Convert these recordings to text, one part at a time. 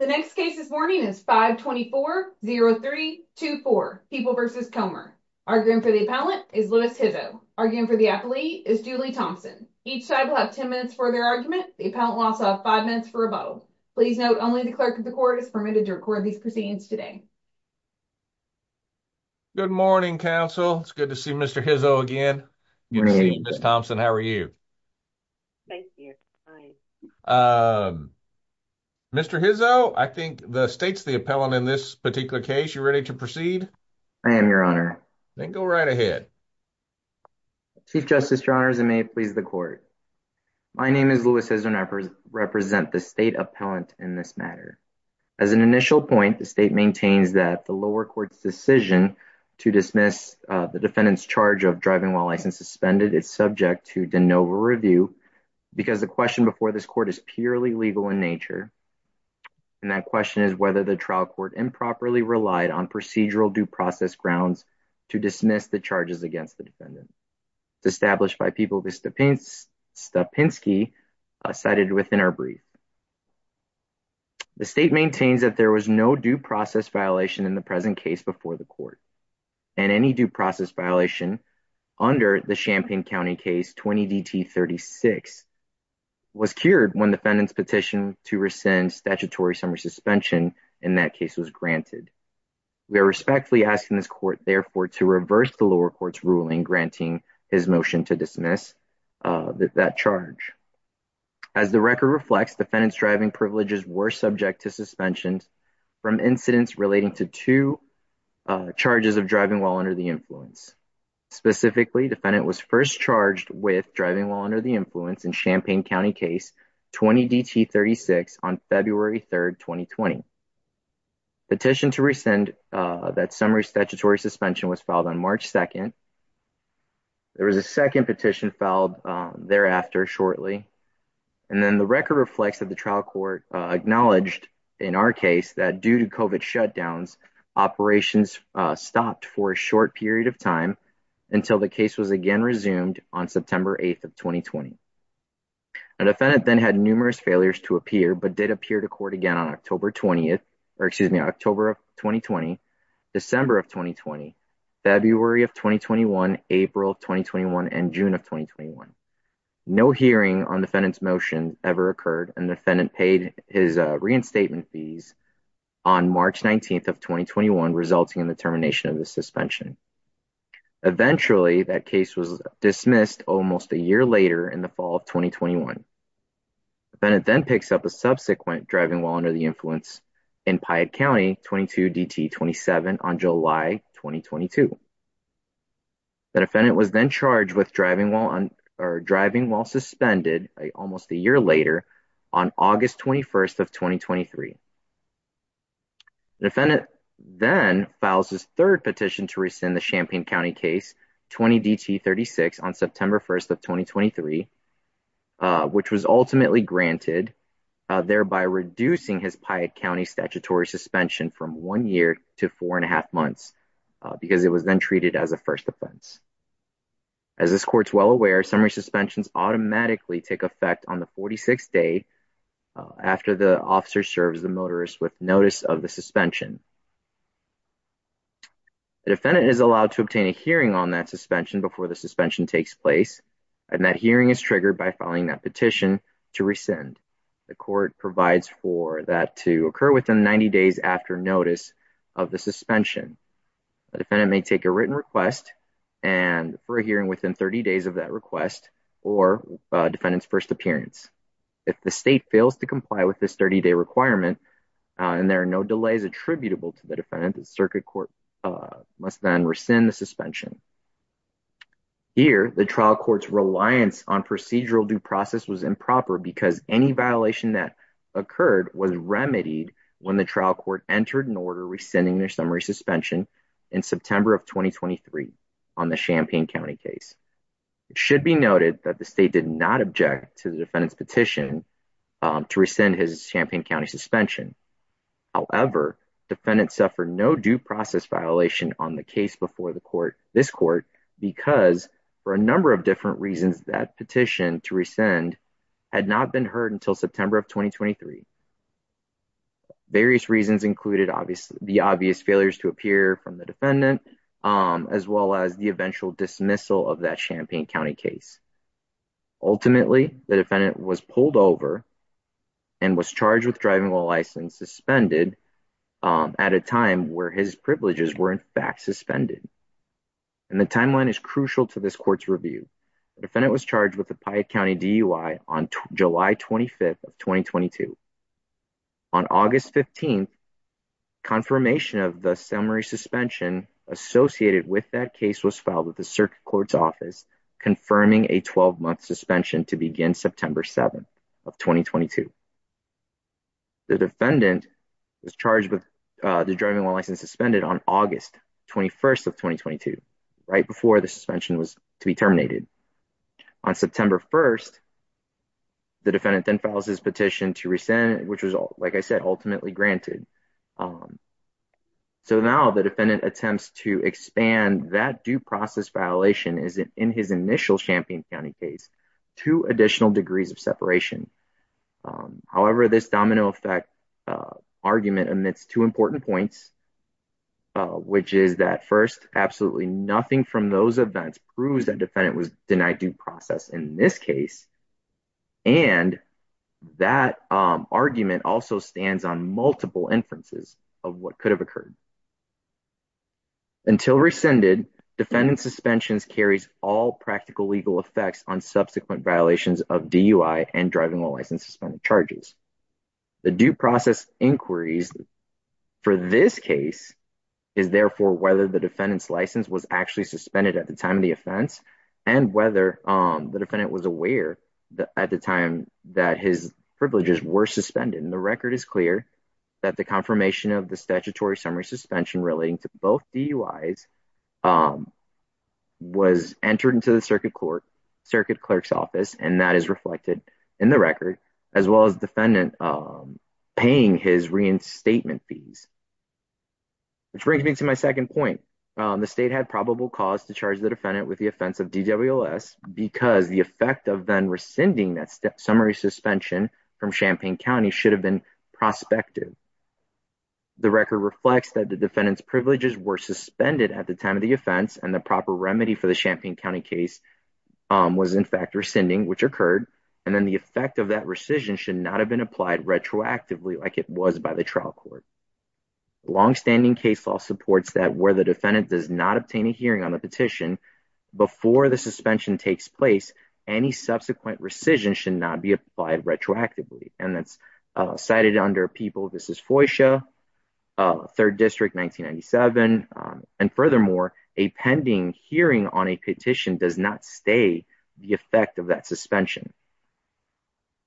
The next case this morning is 524-03-24, People v. Comer. Arguing for the appellant is Louis Hizzo. Arguing for the appellee is Julie Thompson. Each side will have 10 minutes for their argument. The appellant will also have 5 minutes for a vote. Please note only the clerk of the court is permitted to record these proceedings today. Good morning, counsel. It's good to see Mr. Hizzo. I think the state's the appellant in this particular case. You ready to proceed? I am, your honor. Then go right ahead. Chief Justice, your honors, and may it please the court. My name is Louis Hizzo and I represent the state appellant in this matter. As an initial point, the state maintains that the lower court's decision to dismiss the defendant's charge of driving while license suspended is subject to de novo review because the question before this court is purely legal in nature, and that question is whether the trial court improperly relied on procedural due process grounds to dismiss the charges against the defendant. It's established by People v. Stapinski, cited within our brief. The state maintains that there was no due process violation in the present case before the court, and any due process violation under the Champaign defendant's petition to rescind statutory summary suspension in that case was granted. We are respectfully asking this court, therefore, to reverse the lower court's ruling granting his motion to dismiss that charge. As the record reflects, defendant's driving privileges were subject to suspensions from incidents relating to two charges of driving while under the influence. Specifically, defendant was first charged with driving while under the influence in Champaign County case 20-DT-36 on February 3rd, 2020. Petition to rescind that summary statutory suspension was filed on March 2nd. There was a second petition filed thereafter shortly, and then the record reflects that the trial court acknowledged in our case that due to COVID shutdowns, operations stopped for a short period of time until the case was again resumed on September 8th of 2020. A defendant then had numerous failures to appear, but did appear to court again on October 20th, or excuse me, October of 2020, December of 2020, February of 2021, April 2021, and June of 2021. No hearing on defendant's motion ever occurred, and defendant paid his reinstatement fees on March 19th of 2021, resulting in the termination of the suspension. Eventually, that case was dismissed almost a year later in the fall of 2021. Defendant then picks up a subsequent driving while under the influence in Piatt County 22-DT-27 on July 2022. The defendant was then charged with driving while suspended almost a year later on August 21st of 2023. Defendant then files his third petition to rescind the Champaign County case 20-DT-36 on September 1st of 2023, which was ultimately granted, thereby reducing his Piatt County statutory suspension from one year to four and a half months, because it was then treated as a first offense. As this court's well aware, summary suspensions automatically take effect on the 46th day after the officer serves the notice of the suspension. The defendant is allowed to obtain a hearing on that suspension before the suspension takes place, and that hearing is triggered by filing that petition to rescind. The court provides for that to occur within 90 days after notice of the suspension. The defendant may take a written request for a hearing within 30 days of that request or defendant's first appearance. If the state fails to comply with this 30-day requirement, and there are no delays attributable to the defendant, the circuit court must then rescind the suspension. Here, the trial court's reliance on procedural due process was improper because any violation that occurred was remedied when the trial court entered an order rescinding their summary suspension in September of 2023 on the Champaign County case. It should be noted that the state did not object to the defendant's petition to rescind his Champaign suspension. However, defendants suffered no due process violation on the case before this court because, for a number of different reasons, that petition to rescind had not been heard until September of 2023. Various reasons included the obvious failures to appear from the defendant, as well as the eventual dismissal of that Champaign County case. Ultimately, the defendant was pulled over and was charged with driving while license suspended at a time where his privileges were in fact suspended. And the timeline is crucial to this court's review. The defendant was charged with the Piatt County DUI on July 25th of 2022. On August 15th, confirmation of the summary suspension associated with that case was filed the circuit court's office, confirming a 12-month suspension to begin September 7th of 2022. The defendant was charged with the driving while license suspended on August 21st of 2022, right before the suspension was to be terminated. On September 1st, the defendant then files his petition to rescind, which was, like I said, ultimately granted. So now the defendant attempts to expand that due process violation in his initial Champaign County case to additional degrees of separation. However, this domino effect argument omits two important points, which is that first, absolutely nothing from those events proves that defendant was denied due process in this case. And that argument also stands on multiple inferences of what could have occurred. Until rescinded, defendant suspensions carries all practical legal effects on subsequent violations of DUI and driving while license suspended charges. The due process inquiries for this case is therefore whether the defendant's license was actually suspended at the time of the offense and whether the defendant was aware at the time that his privileges were suspended. And the record is clear that the confirmation of the statutory summary suspension relating to both DUIs was entered into the circuit clerk's office, and that is reflected in the record, as well as defendant paying his reinstatement fees. Which brings me to my second point. The state had probable cause to charge the defendant with offense of DWS because the effect of then rescinding that summary suspension from Champaign County should have been prospective. The record reflects that the defendant's privileges were suspended at the time of the offense and the proper remedy for the Champaign County case was in fact rescinding, which occurred, and then the effect of that rescission should not have been applied retroactively like it was by the trial court. Long-standing case law supports that the defendant does not obtain a hearing on the petition before the suspension takes place, any subsequent rescission should not be applied retroactively. And that's cited under People v. Foysha, 3rd District, 1997. And furthermore, a pending hearing on a petition does not stay the effect of that suspension.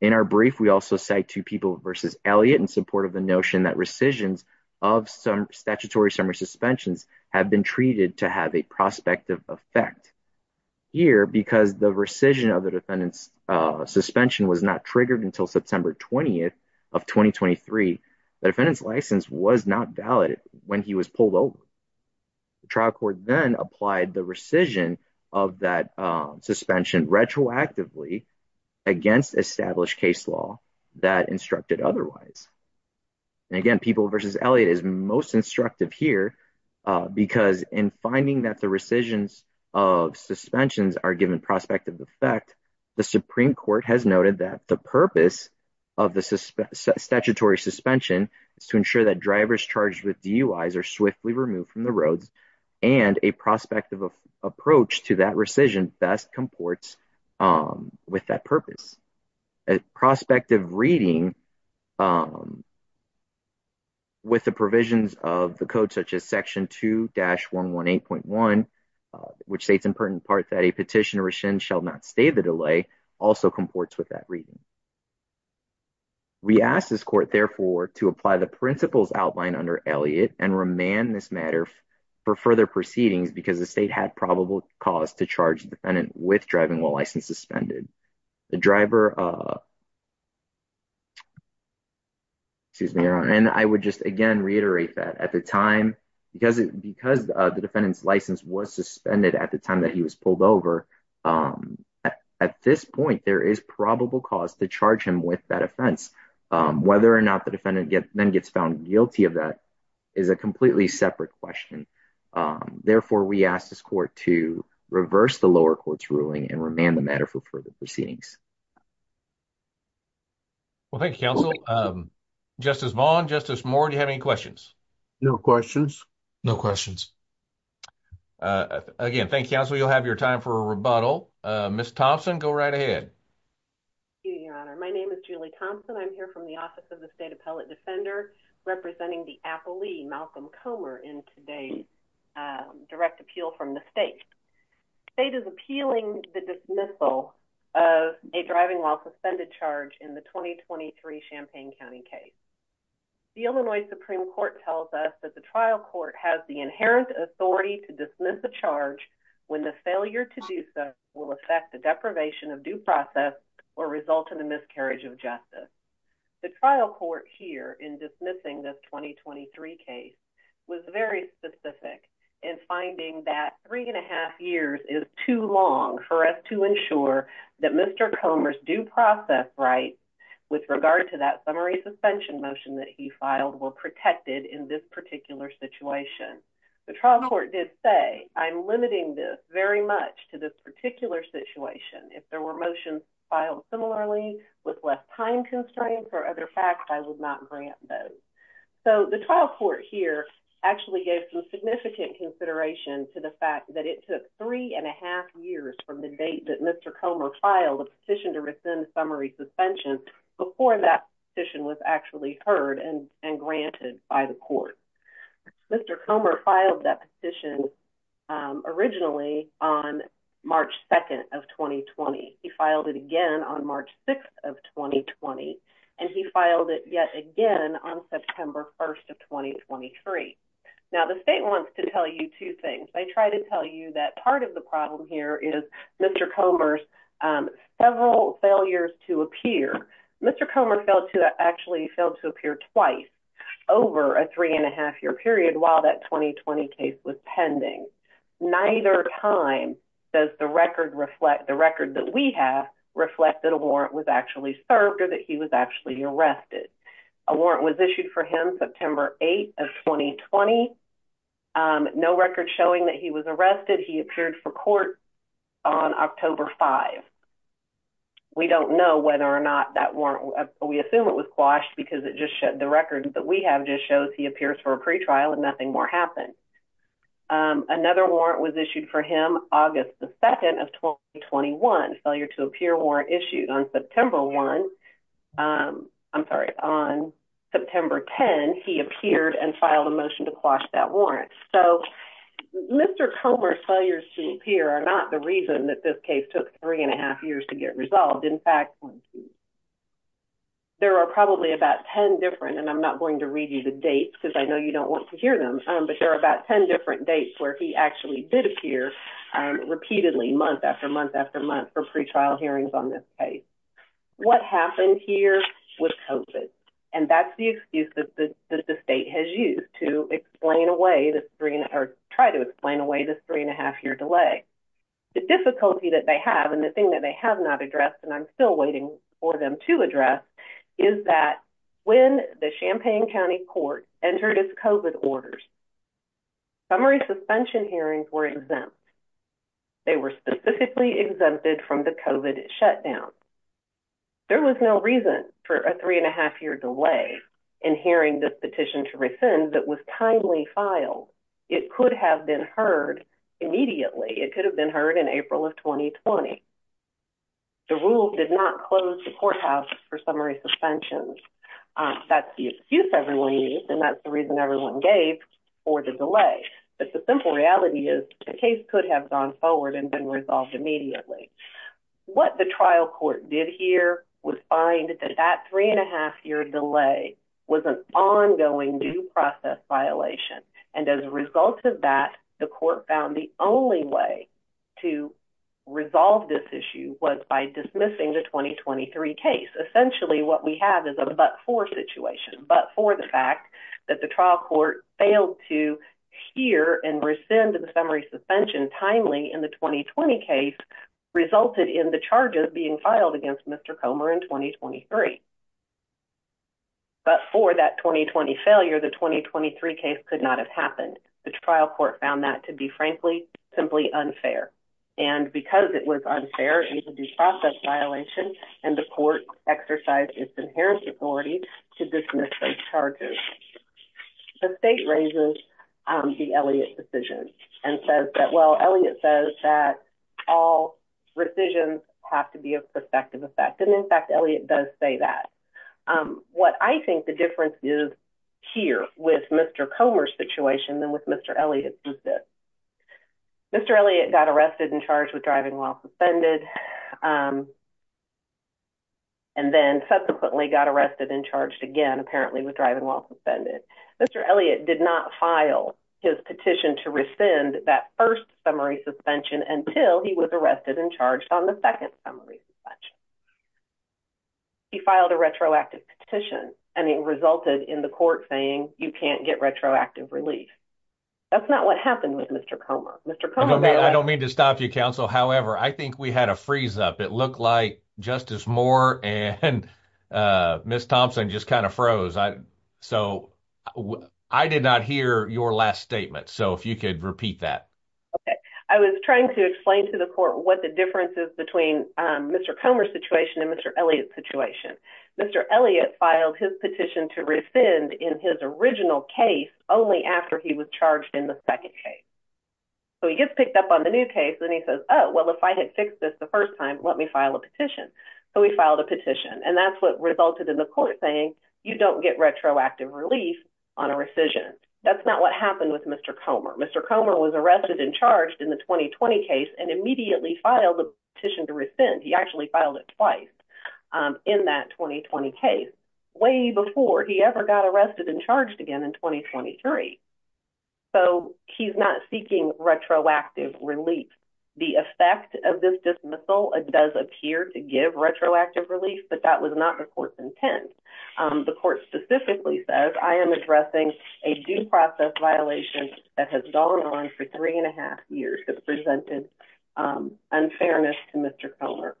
In our brief, we also cite Two People v. Elliott in support of the notion that rescissions of statutory summary suspensions have been treated to have a prospective effect. Here, because the rescission of the defendant's suspension was not triggered until September 20th of 2023, the defendant's license was not valid when he was pulled over. The trial court then applied the rescission of that suspension retroactively against established case law that instructed otherwise. And again, People v. Elliott is most instructive here because in finding that the rescissions of suspensions are given prospective effect, the Supreme Court has noted that the purpose of the statutory suspension is to ensure that drivers charged with DUIs are swiftly removed from the roads and a prospective approach to that best comports with that purpose. A prospective reading with the provisions of the code such as Section 2-118.1, which states in pertinent part that a petition rescind shall not stay the delay, also comports with that reading. We ask this court therefore to apply the principles outlined under Elliott and remand this matter for further proceedings because the state had probable cause to charge the defendant with driving while license suspended. The driver, excuse me, and I would just again reiterate that at the time, because the defendant's license was suspended at the time that he was pulled over, at this point there is probable cause to charge him with that offense. Whether or not the defendant then gets found guilty of that is a completely separate question. Therefore, we ask this court to reverse the lower court's ruling and remand the matter for further proceedings. Well, thank you, counsel. Justice Vaughn, Justice Moore, do you have any questions? No questions. No questions. Again, thank you, counsel. You'll have your time for a rebuttal. Ms. Thompson, go right ahead. Thank you, your honor. My name is Julie Thompson. I'm here from the Office of the State Appellate Defender representing the appellee, Malcolm Comer, in today's direct appeal from the state. The state is appealing the dismissal of a driving while suspended charge in the 2023 Champaign County case. The Illinois Supreme Court tells us that the trial court has the inherent authority to dismiss a charge when the failure to do so will affect the deprivation of due process or result in the miscarriage of justice. The trial court here in dismissing this 2023 case was very specific in finding that three and a half years is too long for us to ensure that Mr. Comer's due process rights with regard to that summary suspension motion that he filed were protected in this particular situation. The trial court did say, I'm limiting this very much to this particular situation. If there were motions filed similarly with less time constraints or other facts, I would not grant those. So, the trial court here actually gave some significant consideration to the fact that it took three and a half years from the date that Mr. Comer filed a petition to rescind summary suspension before that petition was actually heard and granted by the court. Mr. Comer filed that petition originally on March 2nd of 2020. He filed it again on March 6th of 2020 and he filed it yet again on September 1st of 2023. Now, the state wants to tell you two things. They try to tell you that part of the problem here is Mr. Comer's several failures to appear. Mr. Comer failed to actually appear twice over a three and a half year period while that 2020 case was pending. Neither time does the record reflect the record that we have reflect that a warrant was actually served or that he was actually arrested. A warrant was issued for him September 8th of 2020. No record showing that he was arrested. He appeared for court on October 5th. We don't know whether or not that warrant, we assume it was quashed because it just showed the record that we have just shows he appears for a pretrial and nothing more happened. Another warrant was issued for him August the 2nd of 2021. Failure to appear warrant issued on September 1. I'm sorry, on September 10 he appeared and filed a motion to quash that warrant. So, Mr. Comer's failures to appear are not the reason that this case took three and a half years to get resolved. In fact, there are probably about 10 different, and I'm not going to read you the dates because I know you don't want to hear them, but there are about 10 different dates where he actually did appear repeatedly month after month after month for pretrial hearings on this case. What happened here with COVID? And that's the excuse that the state has used to explain away try to explain away this three and a half year delay. The difficulty that they have, and the thing that they have not addressed, and I'm still waiting for them to address, is that when the Champaign County Court entered its COVID orders, summary suspension hearings were exempt. They were specifically exempted from the COVID shutdown. There was no reason for a three and a half year delay in hearing this petition to rescind that was timely filed. It could have been heard immediately. It could have been heard in April of 2020. The rule did not close the courthouse for summary suspension. That's the excuse everyone used, and that's the reason everyone gave for the delay. But the simple reality is the case could have gone forward and been resolved immediately. What the trial court did here was find that that three and a half year delay was an ongoing due process violation, and as a result of that, the court found the only way to resolve this issue was by dismissing the 2023 case. Essentially, what we have is a but for situation, but for the fact that the trial court failed to hear and rescind the summary suspension timely in the 2020 case resulted in the charges being filed against Mr. Comer in 2023. But for that 2020 failure, the 2023 case could not have happened. The trial court found that to be, frankly, simply unfair, and because it was unfair, due process violation, and the court exercised its inherent authority to dismiss those charges. The state raises the Elliott decision and says that, well, Elliott says that all rescissions have to be of effective effect, and in fact, Elliott does say that. What I think the difference is here with Mr. Comer's situation than with Mr. Elliott's is that Mr. Elliott got arrested and charged with driving while suspended, and then subsequently got arrested and charged again, apparently, with driving while suspended. Mr. Elliott did not file his petition to rescind that first suspension until he was arrested and charged on the second summary suspension. He filed a retroactive petition, and it resulted in the court saying, you can't get retroactive relief. That's not what happened with Mr. Comer. Mr. Comer- I don't mean to stop you, counsel. However, I think we had a freeze up. It looked like Justice Moore and Ms. Thompson just kind of froze. So, I did not hear your last statement. So, if you could repeat that. Okay. I was trying to explain to the court what the difference is between Mr. Comer's situation and Mr. Elliott's situation. Mr. Elliott filed his petition to rescind in his original case only after he was charged in the second case. So, he gets picked up on the new case, and then he says, oh, well, if I had fixed this the first time, let me file a petition. So, he filed a petition, and that's what resulted in the court saying, you don't get retroactive relief on a rescission. That's not what happened with Mr. Comer. Mr. Comer was arrested and charged in the 2020 case and immediately filed a petition to rescind. He actually filed it twice in that 2020 case, way before he ever got arrested and charged again in 2023. So, he's not seeking retroactive relief. The effect of this dismissal does appear to give retroactive relief, but that was not the court's intent. The court specifically says, I am addressing a due process violation that has gone on for three and a half years that presented unfairness to Mr. Comer.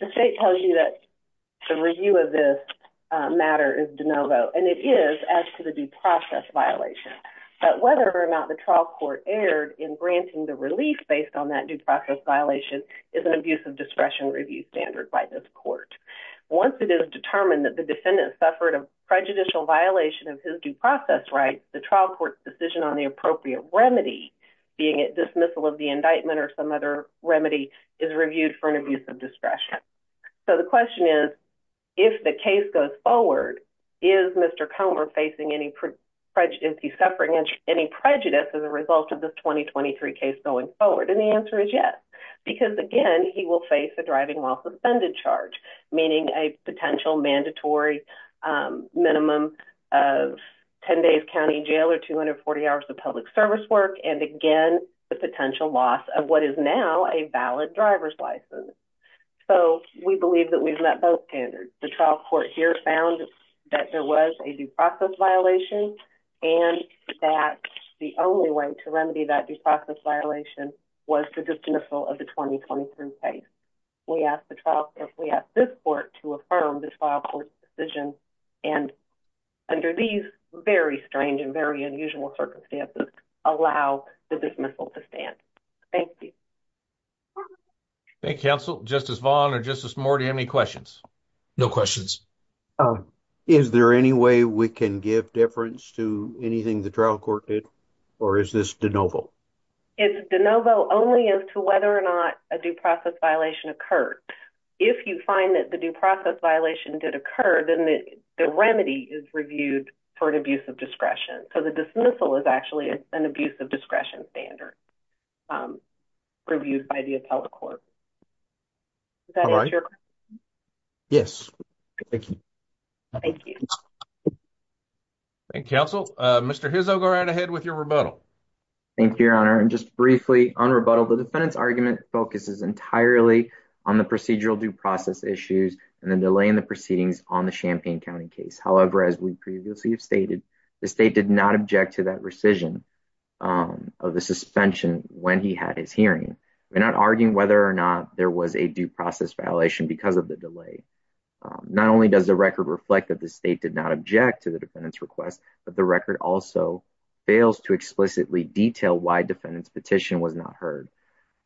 The state tells you that the review of this matter is de novo, and it is as to the due process violation. But whether or not the trial court erred in granting the relief based on that due process violation is an abuse of discretion review standard by this court. Once it is determined that the defendant suffered a prejudicial violation of his due process rights, the trial court's decision on the appropriate remedy, being it dismissal of the indictment or some other remedy, is reviewed for an abuse of discretion. So, the question is, if the case goes forward, is Mr. Comer facing any prejudice, is he suffering any prejudice as a result of this 2023 case going forward? And the answer is yes, because again, he will face a while suspended charge, meaning a potential mandatory minimum of 10 days county jail or 240 hours of public service work, and again, the potential loss of what is now a valid driver's license. So, we believe that we've met both standards. The trial court here found that there was a due process violation, and that the only way to remedy that due process violation was to dismissal of the 2023 case. We ask this court to affirm the trial court's decision, and under these very strange and very unusual circumstances, allow the dismissal to stand. Thank you. Thank you, counsel. Justice Vaughn or Justice Moore, do you have any questions? No questions. Is there any way we can give deference to anything the trial court did, or is this de novo? It's de novo only as to whether or not a due process violation occurred. If you find that the due process violation did occur, then the remedy is reviewed for an abuse of discretion. So, the dismissal is actually an abuse of discretion standard reviewed by the appellate court. Is that your question? Yes. Thank you. Thank you. Thank you, counsel. Mr. Hizzo, go right ahead with your rebuttal. Thank you, Your Honor. And just briefly on rebuttal, the defendant's argument focuses entirely on the procedural due process issues and the delay in the proceedings on the Champaign County case. However, as we previously have stated, the state did not object to that rescission of the suspension when he had his hearing. We're not arguing whether or not there was a due process violation because of the delay. Not only does the record reflect that the state did not object to defendant's request, but the record also fails to explicitly detail why defendant's petition was not heard.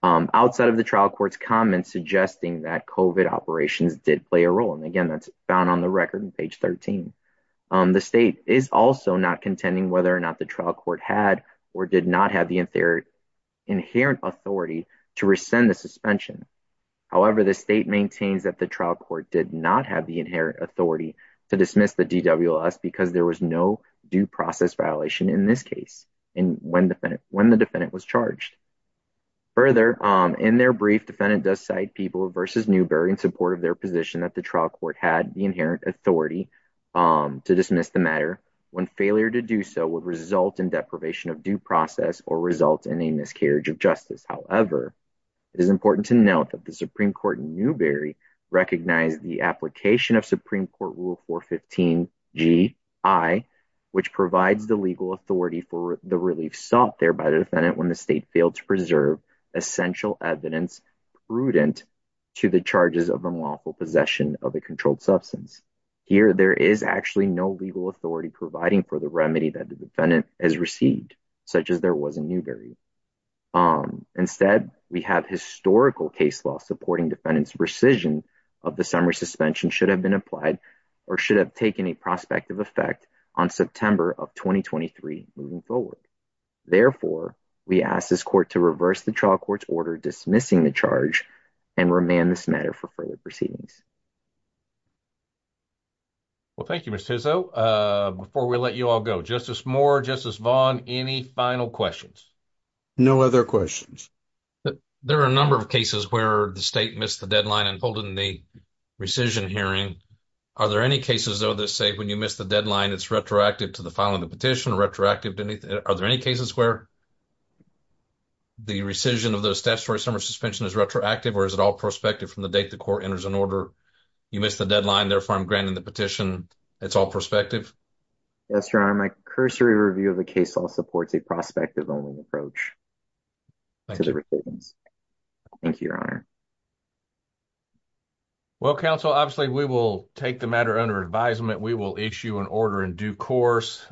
Outside of the trial court's comments suggesting that COVID operations did play a role, and again, that's found on the record on page 13, the state is also not contending whether or not the trial court had or did not have the inherent authority to rescind the suspension. However, the state maintains that the trial court did not have the inherent authority to dismiss the DWS because there was no due process violation in this case when the defendant was charged. Further, in their brief, defendant does cite people versus Newberry in support of their position that the trial court had the inherent authority to dismiss the matter when failure to do so would result in deprivation of due process or result in a miscarriage of justice. However, it is important to note that the Supreme Court in Newberry recognized the application of Supreme Court Rule 415 G.I., which provides the legal authority for the relief sought there by the defendant when the state failed to preserve essential evidence prudent to the charges of unlawful possession of a controlled substance. Here, there is actually no legal authority providing for the remedy that the defendant has received, such as there was in Newberry. Instead, we have historical case law supporting defendant's rescission of the summary suspension should have been applied or should have taken a prospective effect on September of 2023 moving forward. Therefore, we ask this court to reverse the trial court's order dismissing the charge and remand this matter for further proceedings. Well, thank you, Mr. Hizzo. Before we let you all go, Justice Moore, Justice Vaughn, any final questions? No other questions. There are a number of cases where the state missed the deadline in holding the rescission hearing. Are there any cases, though, that say when you missed the deadline, it's retroactive to the filing of the petition or retroactive to anything? Are there any cases where the rescission of the statutory summary suspension is retroactive or is it all prospective from the date the court enters an order? You missed the deadline, therefore, I'm granting the petition. It's all prospective? Yes, Your Honor. My cursory review of the case law supports a prospective-only approach to the proceedings. Thank you, Your Honor. Well, counsel, obviously, we will take the matter under advisement. We will issue an order in due course.